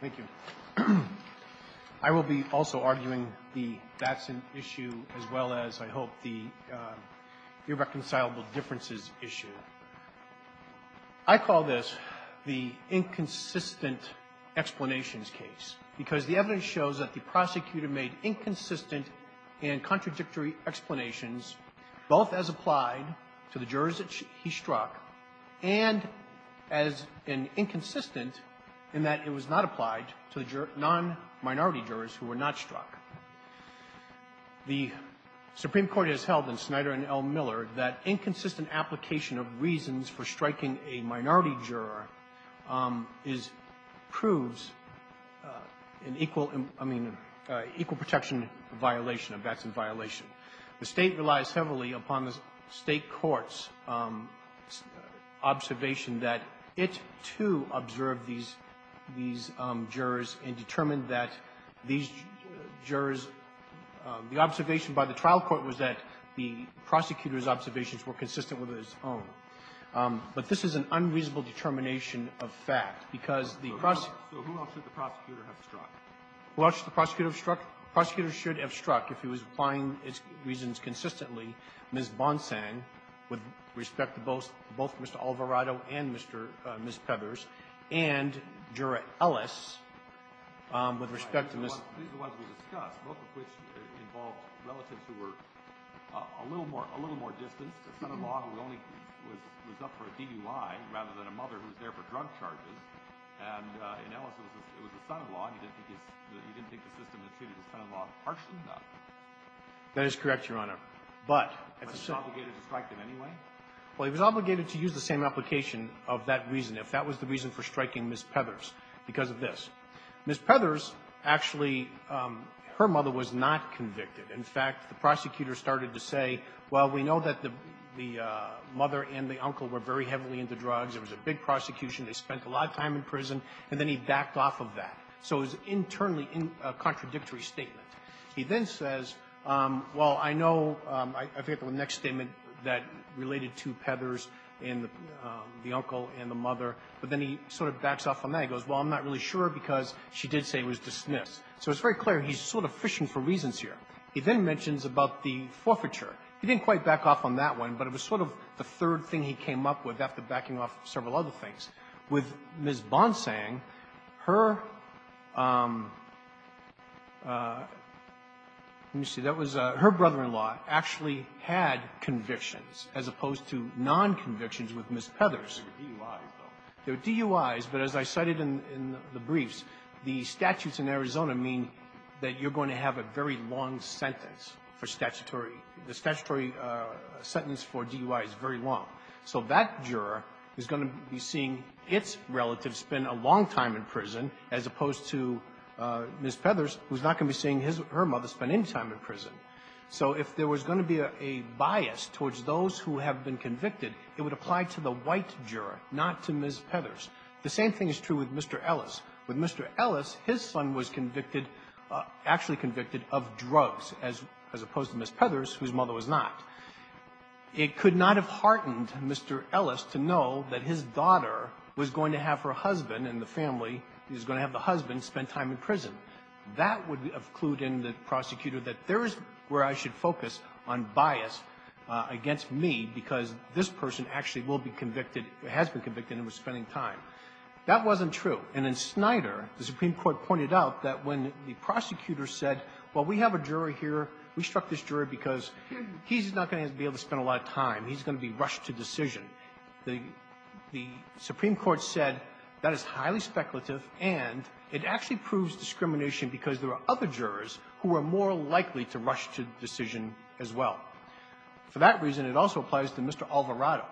Thank you. I will be also arguing the that's an issue as well as, I hope, the irreconcilable differences issue. I call this the inconsistent explanations case because the evidence shows that the prosecutor made inconsistent and contradictory explanations, both as applied to the jurors that he struck and as an inconsistent in that it was not applied to the non-minority jurors who were not struck. The Supreme Court has held in Snyder and L. Miller that inconsistent application of reasons for striking a minority juror is proves an equal, I mean, equal protection violation of that's in violation. The State relies heavily upon the State court's observation that it, too, observed these jurors and determined that these jurors, the observation by the trial court was that the prosecutor's observations were consistent with his own. But this is an unreasonable determination of fact because the prosecutor struck. What should the prosecutor struck? Prosecutor should have struck if he was applying his reasons consistently, Ms. Bonsang, with respect to both, both Mr. Alvarado and Mr. Ms. Pevers, and Juror Ellis with respect to Ms. Pevers, both of which involved relatives who were a little more, a little more distanced. A son-in-law who only was up for a DUI rather than a mother who was there for drug charges. And in Ellis, it was a son-in-law, and you didn't think the system that treated his son-in-law harsh enough. That is correct, Your Honor. But he was obligated to strike them anyway? Well, he was obligated to use the same application of that reason if that was the reason for striking Ms. Pevers because of this. Ms. Pevers, actually, her mother was not convicted. In fact, the prosecutor started to say, well, we know that the mother and the uncle were very heavily into drugs. It was a big prosecution. They spent a lot of time in prison. And then he backed off of that. So it was internally a contradictory statement. He then says, well, I know, I forget the next statement that related to Pevers and the uncle and the mother. But then he sort of backs off on that. He goes, well, I'm not really sure because she did say it was dismissed. So it's very clear he's sort of fishing for reasons here. He then mentions about the forfeiture. He didn't quite back off on that one, but it was sort of the third thing he came up with after backing off several other things, with Ms. Bond saying her – let me see. That was her brother-in-law actually had convictions as opposed to non-convictions with Ms. Pevers. They're DUIs, but as I cited in the briefs, the statutes in Arizona mean that you're going to have a very long sentence for statutory – the statutory sentence for DUI is very long. So that juror is going to be seeing its relative spend a long time in prison as opposed to Ms. Pevers, who's not going to be seeing her mother spend any time in prison. So if there was going to be a bias towards those who have been convicted, it would apply to the white juror, not to Ms. Pevers. The same thing is true with Mr. Ellis. With Mr. Ellis, his son was convicted – actually convicted of drugs as opposed to Ms. Pevers, whose mother was not. It could not have heartened Mr. Ellis to know that his daughter was going to have her husband and the family – he was going to have the husband spend time in prison. That would have clued in the prosecutor that there is where I should focus on bias against me because this person actually will be convicted – has been convicted and was spending time. That wasn't true. And in Snyder, the Supreme Court pointed out that when the prosecutor said, well, we have a jury here. We struck this jury because he's not going to be able to spend a lot of time. He's going to be rushed to decision. The – the Supreme Court said that is highly speculative, and it actually proves discrimination because there are other jurors who are more likely to rush to decision as well. For that reason, it also applies to Mr. Alvarado.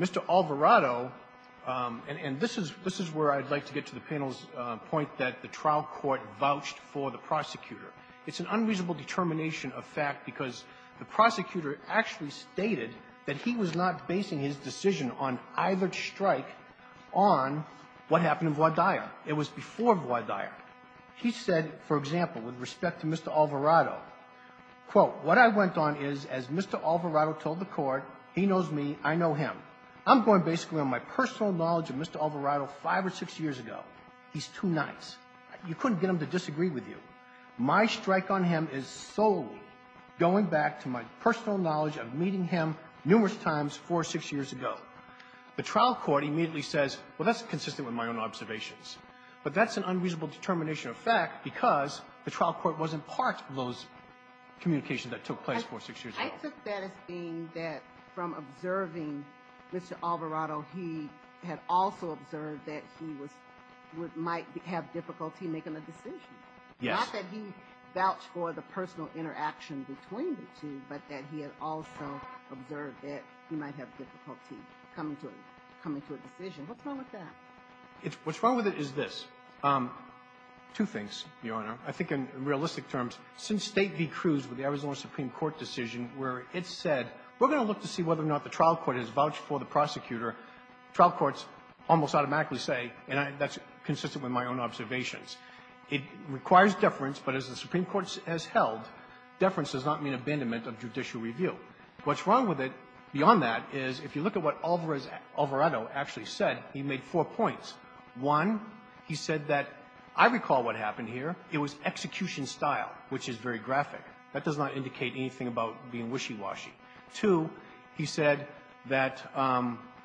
Mr. Alvarado – and this is – this is where I'd like to get to the panel's point that the trial court vouched for the prosecutor. It's an unreasonable determination of fact because the prosecutor actually stated that he was not basing his decision on either strike on what happened in Guadalla. It was before Guadalla. He said, for example, with respect to Mr. Alvarado, quote, what I went on is as Mr. Alvarado told the court, he knows me, I know him. I'm going basically on my personal knowledge of Mr. Alvarado five or six years ago. He's too nice. You couldn't get him to disagree with you. My strike on him is solely going back to my personal knowledge of meeting him numerous times four or six years ago. The trial court immediately says, well, that's consistent with my own observations. But that's an unreasonable determination of fact because the trial court wasn't part of those communications that took place four or six years ago. I took that as being that from observing Mr. Alvarado, he had also observed that he was – might have difficulty making a decision. Yes. Not that he vouched for the personal interaction between the two, but that he had also observed that he might have difficulty coming to a decision. What's wrong with that? It's – what's wrong with it is this. Two things, Your Honor. I think in realistic terms, since State v. Cruz with the Arizona Supreme Court decision where it said we're going to look to see whether or not the trial court has vouched for the prosecutor, trial courts almost automatically say, and that's consistent with my own observations. It requires deference, but as the Supreme Court has held, deference does not mean abandonment of judicial review. What's wrong with it beyond that is if you look at what Alvarado actually said, he made four points. One, he said that I recall what happened here. It was execution style, which is very graphic. That does not indicate anything about being wishy-washy. Two, he said that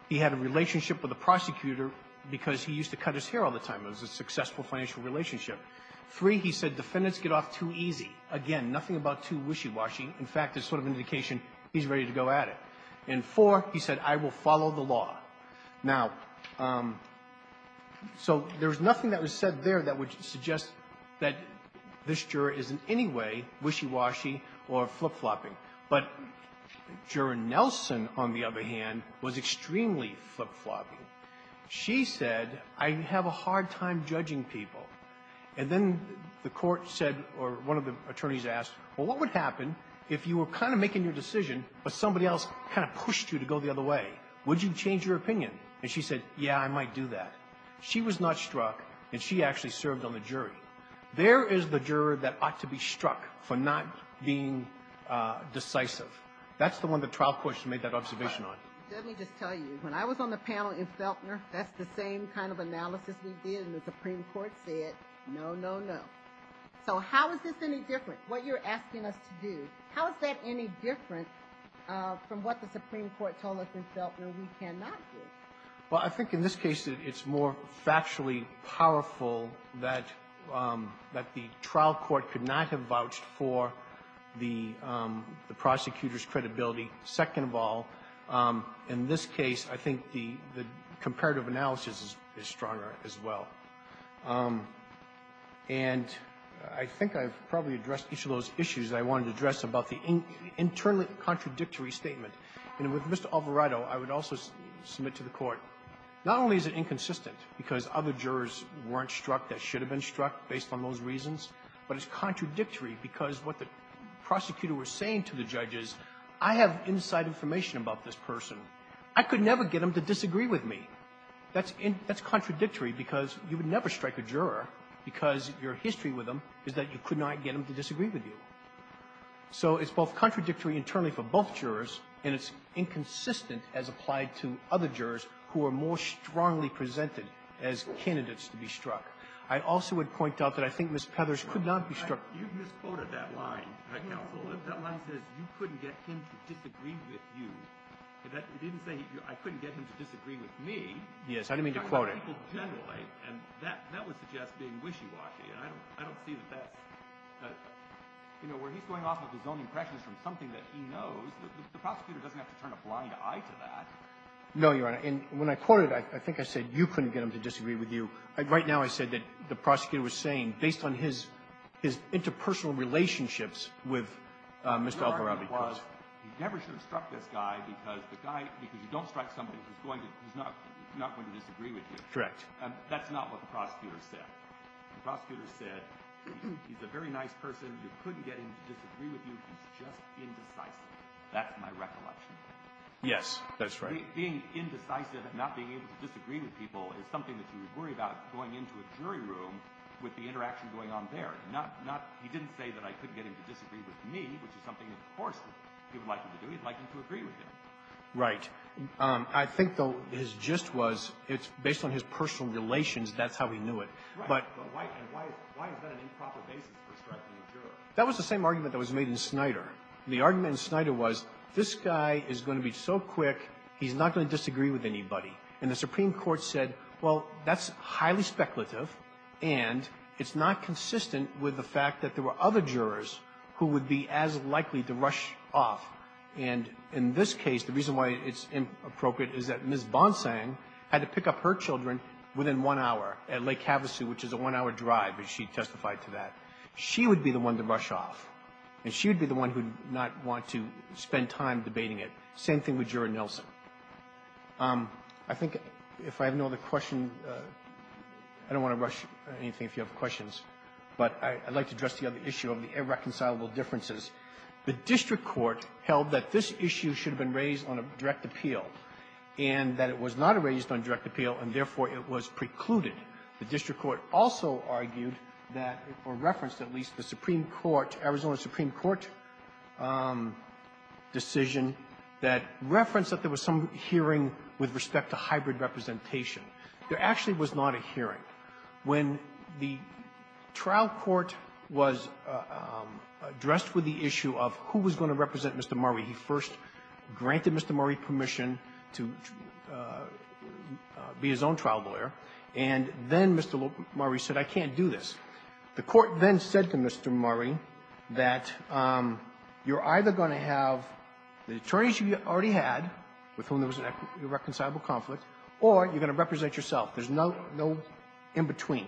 he had a relationship with the prosecutor because he used to cut his hair all the time. It was a successful financial relationship. Three, he said defendants get off too easy. Again, nothing about too wishy-washy. In fact, it's sort of an indication he's ready to go at it. And four, he said, I will follow the law. Now, so there's nothing that was said there that would suggest that this juror is in any way wishy-washy or flip-flopping. But Juror Nelson, on the other hand, was extremely flip-flopping. She said, I have a hard time judging people. And then the Court said, or one of the attorneys asked, well, what would happen if you were kind of making your decision, but somebody else kind of pushed you to go the other way? Would you change your opinion? And she said, yeah, I might do that. She was not struck, and she actually served on the jury. There is the juror that ought to be struck for not being decisive. That's the one the trial courts made that observation on. Let me just tell you, when I was on the panel in Feltner, that's the same kind of analysis we did, and the Supreme Court said, no, no, no. So how is this any different? What you're asking us to do, how is that any different from what the Supreme Court told us in Feltner we cannot do? Well, I think in this case it's more factually powerful that the trial court could not have vouched for the prosecutor's credibility, second of all. In this case, I think the comparative analysis is stronger as well. And I think I've probably addressed each of those issues that I wanted to address about the internally contradictory statement. And with Mr. Alvarado, I would also submit to the Court, not only is it inconsistent because other jurors weren't struck that should have been struck based on those reasons, but it's contradictory because what the prosecutor was saying to the judge is, I have inside information about this person. I could never get him to disagree with me. That's in – that's contradictory because you would never strike a juror because your history with him is that you could not get him to disagree with you. So it's both contradictory internally for both jurors, and it's inconsistent as applied to other jurors who are more strongly presented as candidates to be struck. I also would point out that I think Ms. Pethers could not be struck. You misquoted that line, Counsel. That line says you couldn't get him to disagree with you. It didn't say I couldn't get him to disagree with me. Yes. I didn't mean to quote it. I'm talking about people generally, and that would suggest being wishy-washy. And I don't see that that's – you know, where he's going off with his own impressions from something that he knows, the prosecutor doesn't have to turn a blind eye to that. No, Your Honor. And when I quoted it, I think I said you couldn't get him to disagree with you. Right now I said that the prosecutor was saying, based on his – his interpersonal relationships with Mr. Algarabia. Your argument was he never should have struck this guy because the guy – because you don't strike somebody who's going to – who's not going to disagree with you. Correct. That's not what the prosecutor said. The prosecutor said he's a very nice person. You couldn't get him to disagree with you. He's just indecisive. That's my recollection. Yes. That's right. Being indecisive and not being able to disagree with people is something that you would worry about going into a jury room with the interaction going on there. Not – he didn't say that I couldn't get him to disagree with me, which is something that, of course, he would like me to do. He'd like me to agree with him. Right. I think, though, his gist was it's based on his personal relations. That's how he knew it. Right. But why is that an improper basis for striking a jury? That was the same argument that was made in Snyder. The argument in Snyder was this guy is going to be so quick, he's not going to disagree with anybody. And the Supreme Court said, well, that's highly speculative, and it's not consistent with the fact that there were other jurors who would be as likely to rush off. And in this case, the reason why it's inappropriate is that Ms. Bonsang had to pick up her children within one hour at Lake Havasu, which is a one-hour drive, as she testified to that. She would be the one to rush off, and she would be the one who would not want to spend time debating it. Same thing with Juror Nelson. I think if I have no other question, I don't want to rush anything if you have questions, but I'd like to address the other issue of the irreconcilable differences. The district court held that this issue should have been raised on a direct appeal and that it was not raised on direct appeal, and therefore, it was precluded. The district court also argued that, or referenced, at least, the Supreme Court, Arizona Supreme Court decision that referenced that there was some hearing with respect to hybrid representation. There actually was not a hearing. When the trial court was addressed with the issue of who was going to represent Mr. Murray, he first granted Mr. Murray permission to be his own trial lawyer, and the trial court argued that then Mr. Murray said, I can't do this. The court then said to Mr. Murray that you're either going to have the attorneys you already had with whom there was an irreconcilable conflict, or you're going to represent yourself. There's no in-between.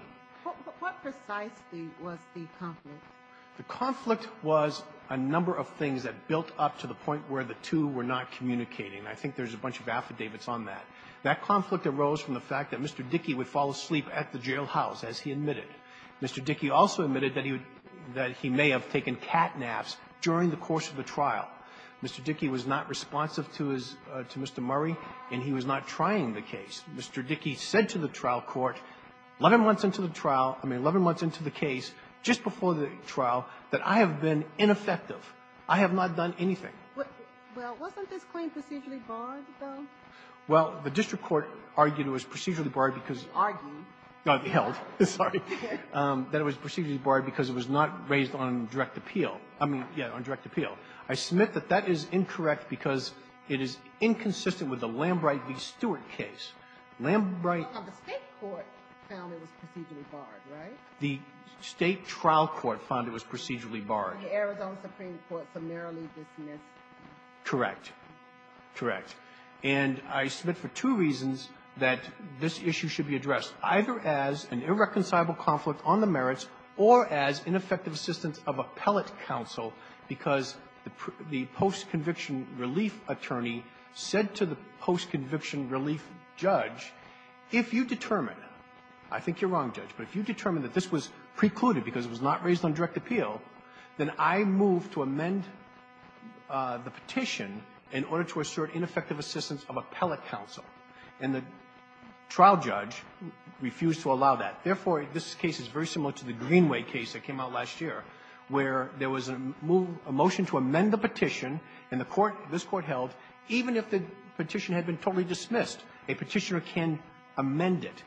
What precisely was the conflict? The conflict was a number of things that built up to the point where the two were not communicating. I think there's a bunch of affidavits on that. That conflict arose from the fact that Mr. Dickey would fall asleep at the jailhouse, as he admitted. Mr. Dickey also admitted that he would — that he may have taken catnaps during the course of the trial. Mr. Dickey was not responsive to his — to Mr. Murray, and he was not trying the case. Mr. Dickey said to the trial court 11 months into the trial — I mean, 11 months into the case, just before the trial, that I have been ineffective. I have not done anything. Well, wasn't this claim procedurally barred, though? Well, the district court argued it was procedurally barred because — Argued? No, held. Sorry. That it was procedurally barred because it was not raised on direct appeal. I mean, yeah, on direct appeal. I submit that that is incorrect because it is inconsistent with the Lambright v. Stewart case. Lambright — Well, the State court found it was procedurally barred, right? The State trial court found it was procedurally barred. The Arizona Supreme Court summarily dismissed — Correct. Correct. And I submit for two reasons that this issue should be addressed, either as an irreconcilable conflict on the merits or as ineffective assistance of appellate counsel because the post-conviction relief attorney said to the post-conviction relief judge, if you determine — I think you're wrong, Judge — but if you determine that this was precluded because it was not raised on direct appeal, then I move to amend the petition in order to assert ineffective assistance of appellate counsel. And the trial judge refused to allow that. Therefore, this case is very similar to the Greenway case that came out last year where there was a move — a motion to amend the petition, and the court — this court held, even if the petition had been totally dismissed, a petitioner can amend it.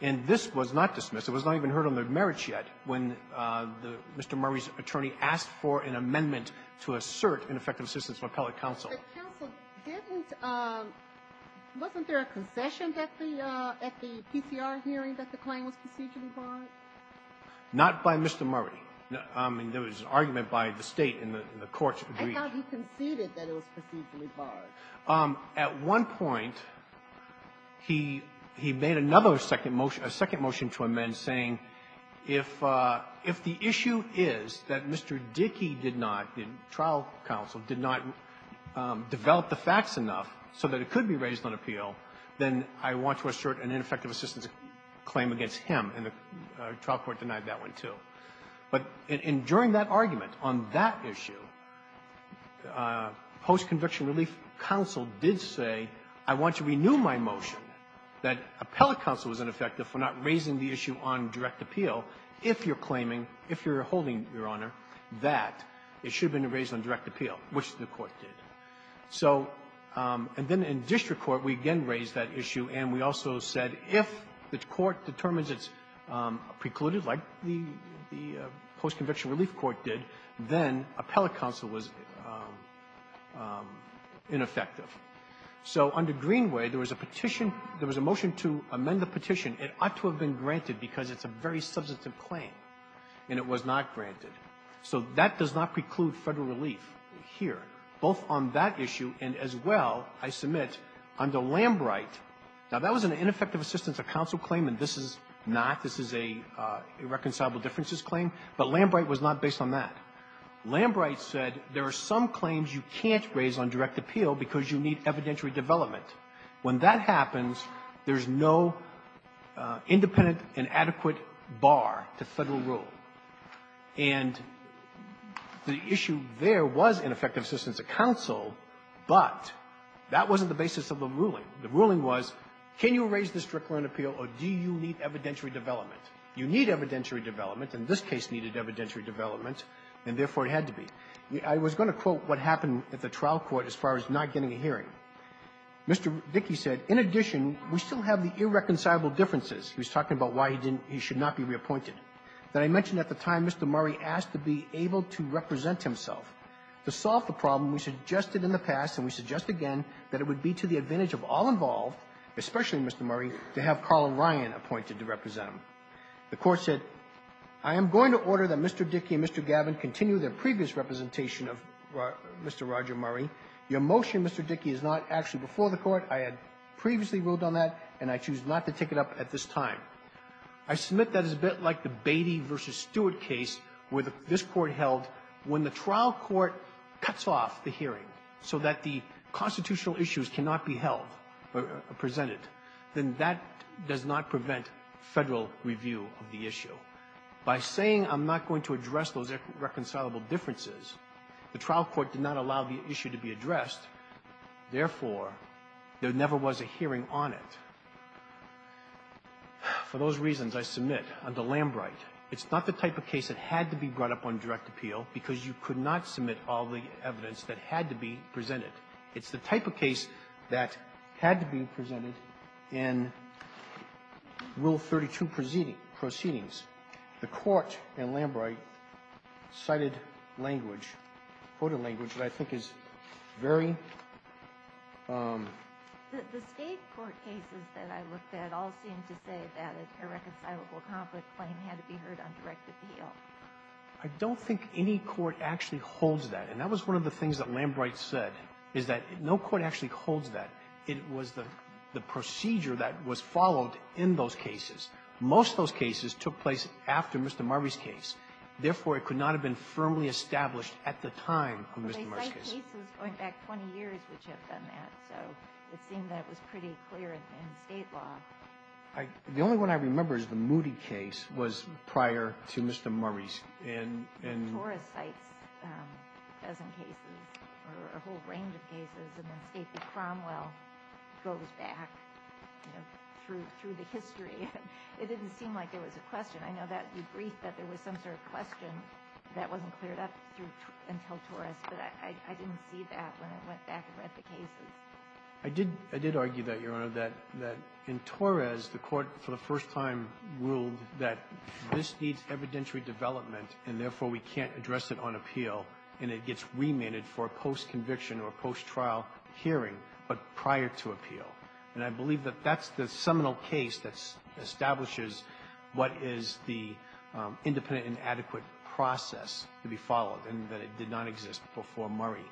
And this was not dismissed. It was not even heard on the merits yet when Mr. Murray's attorney asked for an amendment to assert ineffective assistance of appellate counsel. But counsel didn't — wasn't there a concession that the — at the PCR hearing that the claim was procedurally barred? Not by Mr. Murray. I mean, there was an argument by the State in the court's agreement. I thought you conceded that it was procedurally barred. At one point, he — he made another second motion — a second motion to amend, saying if — if the issue is that Mr. Dickey did not — the trial counsel did not develop the facts enough so that it could be raised on appeal, then I want to assert an ineffective assistance claim against him, and the trial court denied that one too. But — and during that argument, on that issue, post-conviction relief counsel did say, I want to renew my motion that appellate counsel was ineffective for not raising the issue on direct appeal if you're claiming, if you're holding, Your Honor, that it should have been raised on direct appeal, which the court did. So — and then in district court, we again raised that issue, and we also said if the post-conviction relief court did, then appellate counsel was ineffective. So under Greenway, there was a petition — there was a motion to amend the petition. It ought to have been granted because it's a very substantive claim, and it was not granted. So that does not preclude Federal relief here, both on that issue and, as well, I submit under Lambright — now, that was an ineffective assistance of counsel claim, and this is not, this is a irreconcilable differences claim, but Lambright was not based on that. Lambright said there are some claims you can't raise on direct appeal because you need evidentiary development. When that happens, there's no independent and adequate bar to Federal rule. And the issue there was ineffective assistance of counsel, but that wasn't the basis of the ruling. The ruling was, can you raise this strictly on appeal, or do you need evidentiary development? You need evidentiary development, and this case needed evidentiary development, and therefore, it had to be. I was going to quote what happened at the trial court as far as not getting a hearing. Mr. Dickey said, in addition, we still have the irreconcilable differences. He was talking about why he didn't — he should not be reappointed. Then I mentioned at the time Mr. Murray asked to be able to represent himself. To solve the problem, we suggested in the past, and we suggest again, that it would be to the advantage of all involved, especially Mr. Murray, to have Carl Ryan appointed to represent him. The Court said, I am going to order that Mr. Dickey and Mr. Gavin continue their previous representation of Mr. Roger Murray. Your motion, Mr. Dickey, is not actually before the Court. I had previously ruled on that, and I choose not to take it up at this time. I submit that it's a bit like the Beatty v. Stewart case where this Court held, when the trial court cuts off the hearing so that the constitutional issues cannot be held or presented, then that does not prevent Federal review of the issue. By saying I'm not going to address those irreconcilable differences, the trial court did not allow the issue to be addressed. Therefore, there never was a hearing on it. For those reasons, I submit under Lambright, it's not the type of case that had to be brought up on direct appeal because you could not submit all the evidence that had to be presented. It's the type of case that had to be presented in Rule 32 proceedings. The Court in Lambright cited language, quoted language, that I think is very important. The State court cases that I looked at all seemed to say that an irreconcilable conflict claim had to be heard on direct appeal. I don't think any court actually holds that. And that was one of the things that Lambright said, is that no court actually holds that. It was the procedure that was followed in those cases. Most of those cases took place after Mr. Murray's case. Therefore, it could not have been firmly established at the time of Mr. Murray's case. It's going back 20 years, which have done that. So it seemed that it was pretty clear in State law. The only one I remember is the Moody case was prior to Mr. Murray's. And Torres cites a dozen cases, or a whole range of cases, and then State v. Cromwell goes back through the history. It didn't seem like there was a question. I know that you briefed that there was some sort of question that wasn't cleared up until Torres, but I didn't see that when I went back and read the cases. I did argue that, Your Honor, that in Torres, the Court for the first time ruled that this needs evidentiary development, and therefore, we can't address it on appeal, and it gets remanded for post-conviction or post-trial hearing, but prior to appeal. And I believe that that's the seminal case that establishes what is the independent and adequate process to be followed, and that it did not exist before Murray.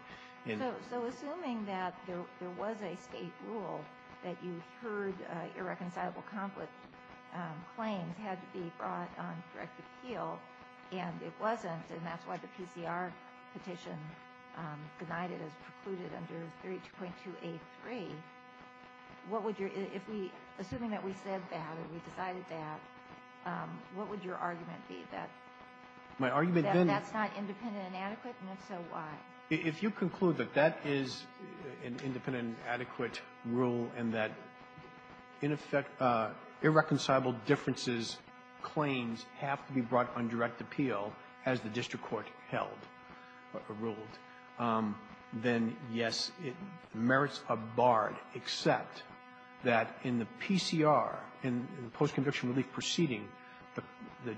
So assuming that there was a State rule that you heard irreconcilable conflict claims had to be brought on direct appeal, and it wasn't, and that's why the PCR petition denied it as precluded under 32.283, what would your, if we, assuming that we said that or we decided that, what would your argument be that that's not independent and adequate, and if so, why? If you conclude that that is an independent and adequate rule and that, in effect, irreconcilable differences claims have to be brought on direct appeal, as the district court held or ruled, then, yes, merits are barred, except that in the PCR, in the post-conviction relief proceeding, the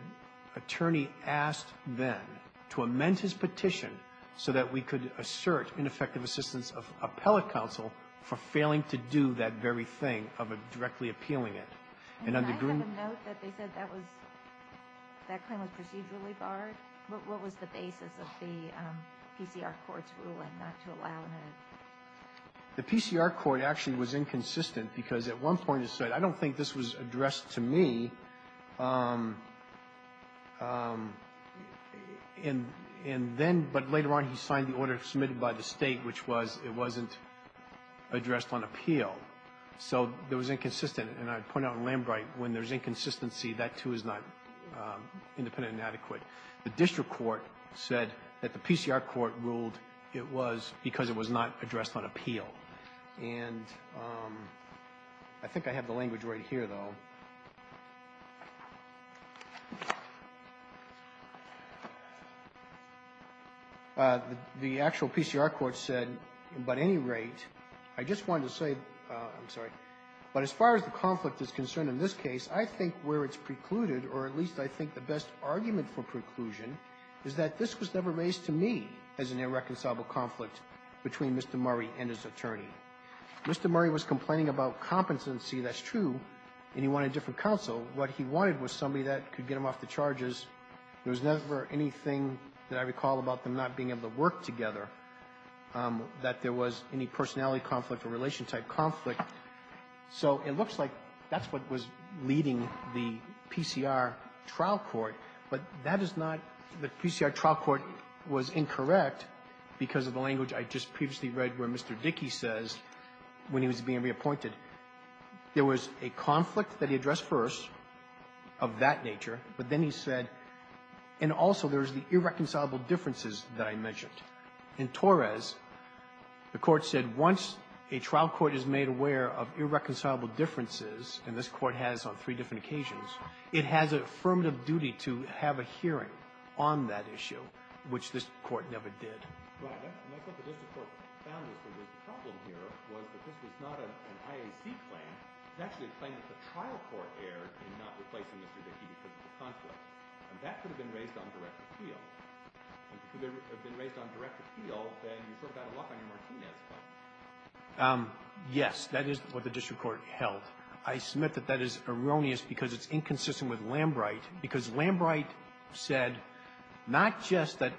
attorney asked then to amend his petition so that we could assert ineffective assistance of appellate counsel for failing to do that very thing of directly appealing it. And I have a note that they said that was, that claim was procedurally barred. What was the basis of the PCR court's ruling not to allow that? The PCR court actually was inconsistent, because at one point it said, I don't think this was addressed to me, and then, but later on, he signed the order submitted by the State, which was it wasn't addressed on appeal. So it was inconsistent. And I'd point out in Lambright, when there's inconsistency, that, too, is not independent The district court said that the PCR court ruled it was because it was not addressed on appeal. And I think I have the language right here, though. The actual PCR court said, but at any rate, I just wanted to say, I'm sorry, but as far as the conflict is concerned in this case, I think where it's precluded, or at least I think the best argument for preclusion is that this was never raised to me as an irreconcilable conflict between Mr. Murray and his attorney. Mr. Murray was complaining about competency, that's true, and he wanted a different counsel. What he wanted was somebody that could get him off the charges. There was never anything that I recall about them not being able to work together, that there was any personality conflict or relation-type conflict. So it looks like that's what was leading the PCR trial court. But that is not, the PCR trial court was incorrect because of the language I just previously read where Mr. Dickey says, when he was being reappointed, there was a conflict that he addressed first of that nature, but then he said, and also there's the irreconcilable differences that I mentioned. In Torres, the court said, once a trial court is made aware of irreconcilable differences, and this court has on three different occasions, it has an affirmative duty to have a hearing on that issue, which this court never did. Right. And that's what the district court found was that the problem here was that this was not an IAC claim. It was actually a claim that the trial court erred in not replacing Mr. Dickey because of the conflict. And that could have been raised on direct appeal. And if it could have been raised on direct appeal, then you sort of got a lock on your Martinez claim. Yes. That is what the district court held. I submit that that is erroneous because it's inconsistent with Lambright, because Lambright said not just that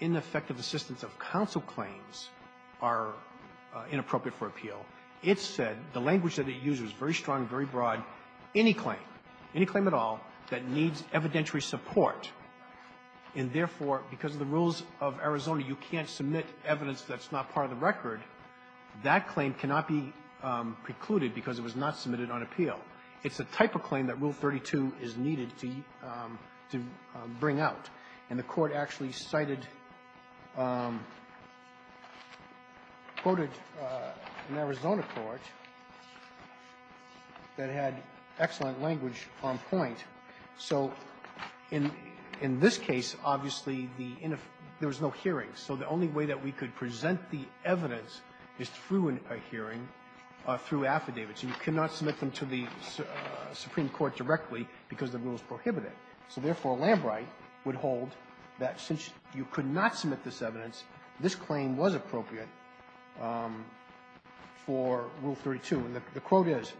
ineffective assistance of counsel claims are inappropriate for appeal. It said, the language that it used was very strong, very broad, any claim, any claim at all that needs evidentiary support, and therefore, because of the rules of Arizona, you can't submit evidence that's not part of the record, that claim cannot be precluded because it was not submitted on appeal. It's the type of claim that Rule 32 is needed to bring out. And the Court actually cited, quoted an Arizona court that had excellent language on point. So in this case, obviously, the inef --" there was no hearings. So the only way that we could present the evidence is through a hearing, through affidavits. And you cannot submit them to the Supreme Court directly because the rules prohibit it. So therefore, Lambright would hold that since you could not submit this evidence, this claim was appropriate for Rule 32. And the quote is,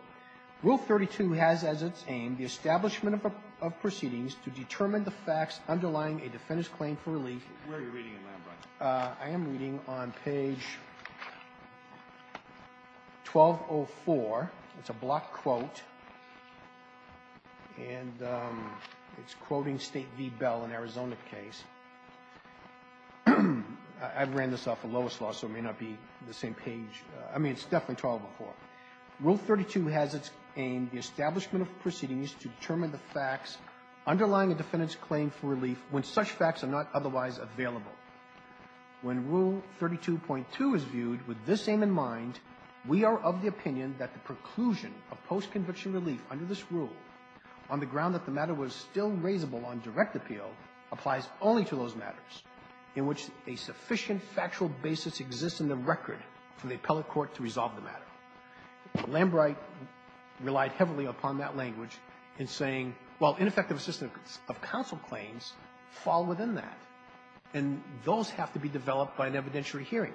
Rule 32 has as its aim the establishment of proceedings to determine the facts underlying a defendant's claim for relief. Where are you reading it, Lambright? I am reading on page 1204. It's a block quote, and it's quoting State v. Bell, an Arizona case. I've ran this off of Lois' law, so it may not be the same page. I mean, it's definitely 1204. Rule 32 has as its aim the establishment of proceedings to determine the facts underlying a defendant's claim for relief. The facts are not otherwise available. When Rule 32.2 is viewed with this aim in mind, we are of the opinion that the preclusion of post-conviction relief under this rule on the ground that the matter was still raisable on direct appeal applies only to those matters in which a sufficient factual basis exists in the record for the appellate court to resolve the matter. Lambright relied heavily upon that language in saying, well, ineffective assistance of counsel claims fall within that, and those have to be developed by an evidentiary hearing.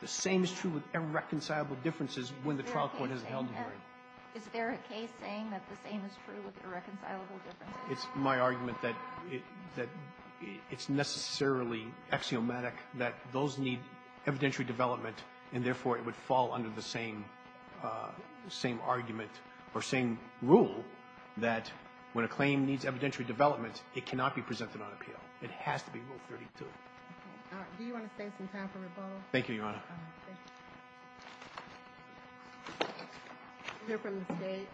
The same is true with irreconcilable differences when the trial court has held a hearing. Is there a case saying that the same is true with irreconcilable differences? It's my argument that it's necessarily axiomatic that those need evidentiary development, and therefore it would fall under the same argument or same rule that when a claim needs evidentiary development, it cannot be presented on appeal. It has to be Rule 32. All right. Do you want to stay some time for rebuttal? Thank you, Your Honor. All right. Thank you. We'll hear from the State.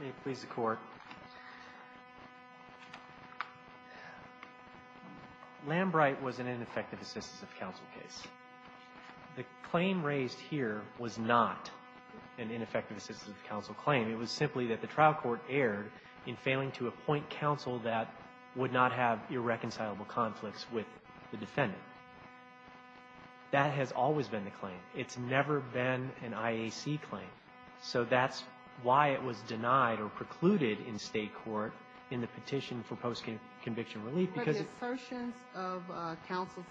May it please the Court. Lambright was an ineffective assistance of counsel case. The claim raised here was not an ineffective assistance of counsel claim. It was simply that the trial court erred in failing to appoint counsel that would not have irreconcilable conflicts with the defendant. That has always been the claim. It's never been an IAC claim. So that's why it was denied or precluded in state court in the petition for post-conviction relief. But the assertions of counsel's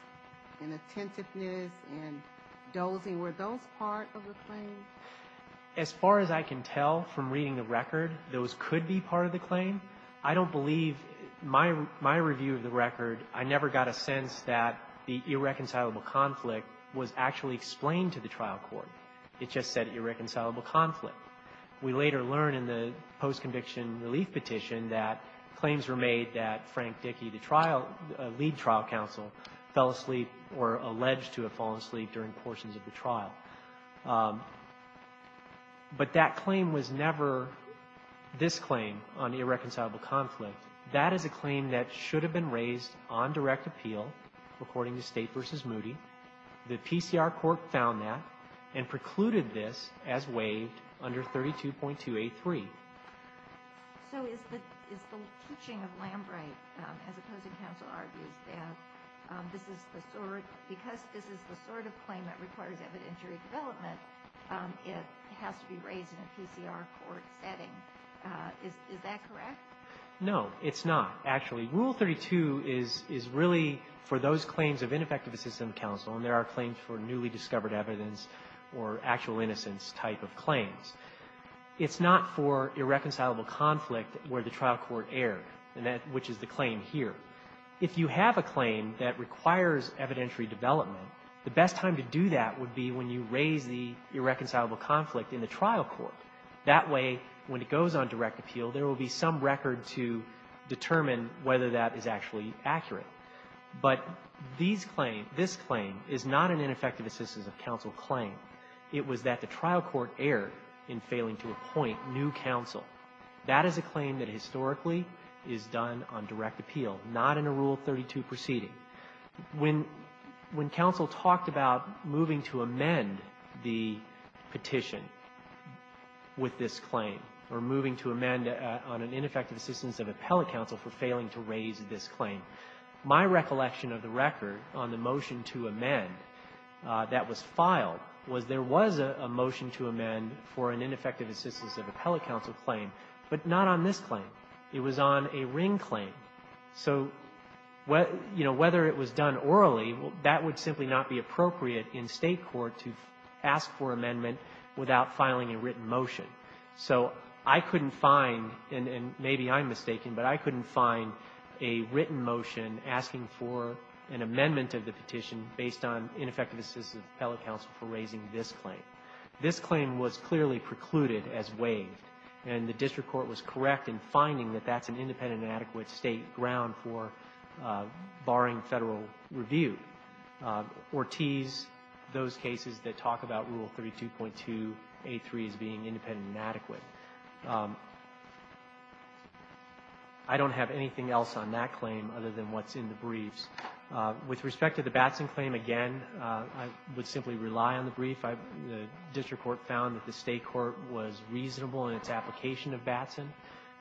inattentiveness and dozing, were those part of the claim? As far as I can tell from reading the record, those could be part of the claim. I don't believe, in my review of the record, I never got a sense that the irreconcilable conflict was actually explained to the trial court. It just said irreconcilable conflict. We later learned in the post-conviction relief petition that claims were made that Frank Dickey, the trial, the lead trial counsel, fell asleep or alleged to have fallen asleep during portions of the trial. But that claim was never this claim on the irreconcilable conflict. That is a claim that should have been raised on direct appeal, according to State v. Moody. The PCR court found that and precluded this as waived under 32.283. So is the teaching of Lambright, as opposed to counsel, argues that this is the sort of claim that requires evidentiary development, it has to be raised in a PCR court setting. Is that correct? No, it's not, actually. Rule 32 is really for those claims of ineffective assistance of counsel, and there are claims for newly discovered evidence or actual innocence type of claims. It's not for irreconcilable conflict where the trial court erred, which is the claim here. If you have a claim that requires evidentiary development, the best time to do that would be when you raise the irreconcilable conflict in the trial court. That way, when it goes on direct appeal, there will be some record to determine whether that is actually accurate. But these claims, this claim, is not an ineffective assistance of counsel claim. It was that the trial court erred in failing to appoint new counsel. That is a claim that historically is done on direct appeal, not in a Rule 32 proceeding. When counsel talked about moving to amend the petition with this claim, or moving to amend on an ineffective assistance of appellate counsel for failing to raise this claim, my recollection of the record on the motion to amend that was filed was there was a motion to amend for an ineffective assistance of appellate counsel claim, but not on this claim. It was on a Ring claim. So, you know, whether it was done orally, that would simply not be appropriate in State court to ask for amendment without filing a written motion. So I couldn't find, and maybe I'm mistaken, but I couldn't find a written motion asking for an amendment of the petition based on ineffective assistance of appellate counsel for raising this claim. This claim was clearly precluded as waived, and the district court was correct in finding that that's an independent and adequate State ground for barring Federal review, or tease those cases that talk about Rule 32.2a3 as being independent and adequate. So I don't have anything else on that claim other than what's in the briefs. With respect to the Batson claim, again, I would simply rely on the brief. The district court found that the State court was reasonable in its application of Batson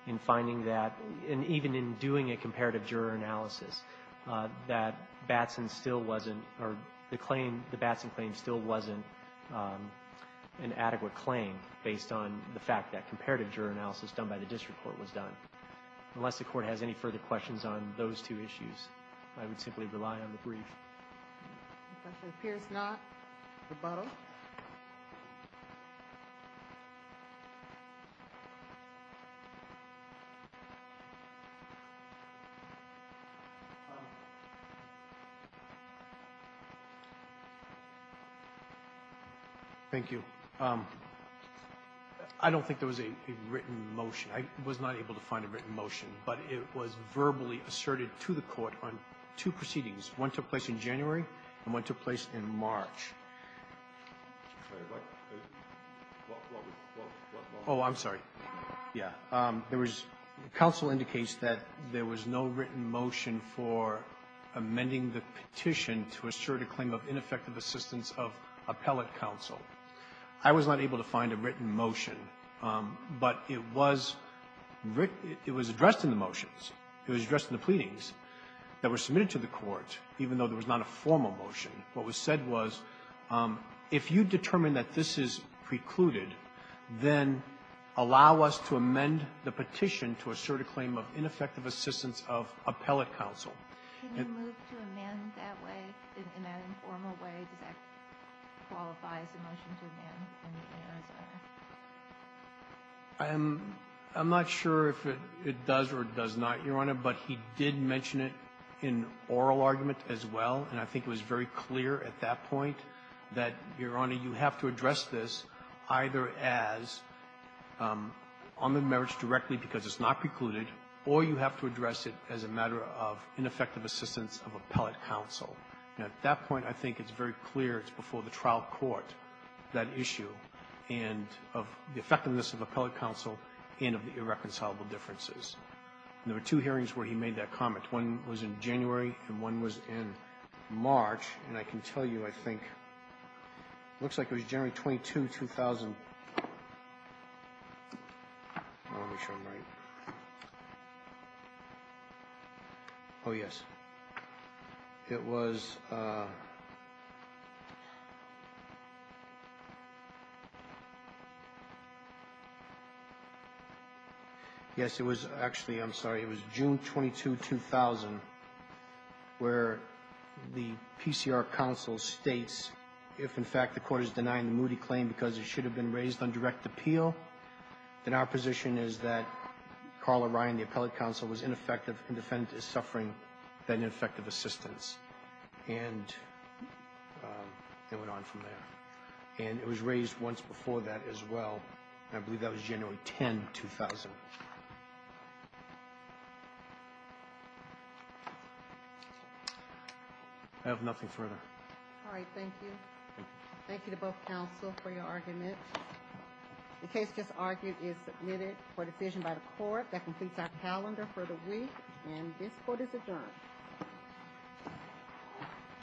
in finding that, and even in doing a comparative juror analysis, that Batson still wasn't, or the claim, the Batson claim still wasn't an adequate claim based on the fact that comparative juror analysis done by the district court was done. Unless the court has any further questions on those two issues, I would simply rely on the brief. If it appears not, rebuttal. Thank you. I don't think there was a written motion. I was not able to find a written motion, but it was verbally asserted to the court on two proceedings. One took place in January, and one took place in March. Oh, I'm sorry. Yeah. There was the counsel indicates that there was no written motion for amending the petition to assert a claim of ineffective assistance of appellate counsel. I was not able to find a written motion, but it was addressed in the motions. It was addressed in the pleadings that were submitted to the court, even though there was not a formal motion. What was said was, if you determine that this is precluded, then allow us to amend the petition to assert a claim of ineffective assistance of appellate counsel. Can you move to amend that way, in an informal way? Does that qualify as a motion to amend in the NISR? I'm not sure if it does or does not, Your Honor, but he did mention it in oral argument as well, and I think it was very clear at that point that, Your Honor, you have to address this either as on the merits directly because it's not precluded, or you have to address it as a matter of ineffective assistance of appellate counsel. Now, at that point, I think it's very clear it's before the trial court, that issue, and of the effectiveness of appellate counsel and of the irreconcilable differences. There were two hearings where he made that comment. One was in January and one was in March, and I can tell you, I think, it looks like it was January 22, 2000. Let me make sure I'm right. Oh, yes. It was – yes, it was actually, I'm sorry, it was June 22, 2000, where the PCR counsel states if, in fact, the court is denying the Moody claim because it should have been Carl O'Ryan, the appellate counsel, was ineffective and defendant is suffering that ineffective assistance, and it went on from there. And it was raised once before that as well, and I believe that was January 10, 2000. I have nothing further. All right. Thank you. Thank you. Thank you to both counsel for your argument. The case just argued is submitted for decision by the court. That completes our calendar for the week, and this court is adjourned. All rise.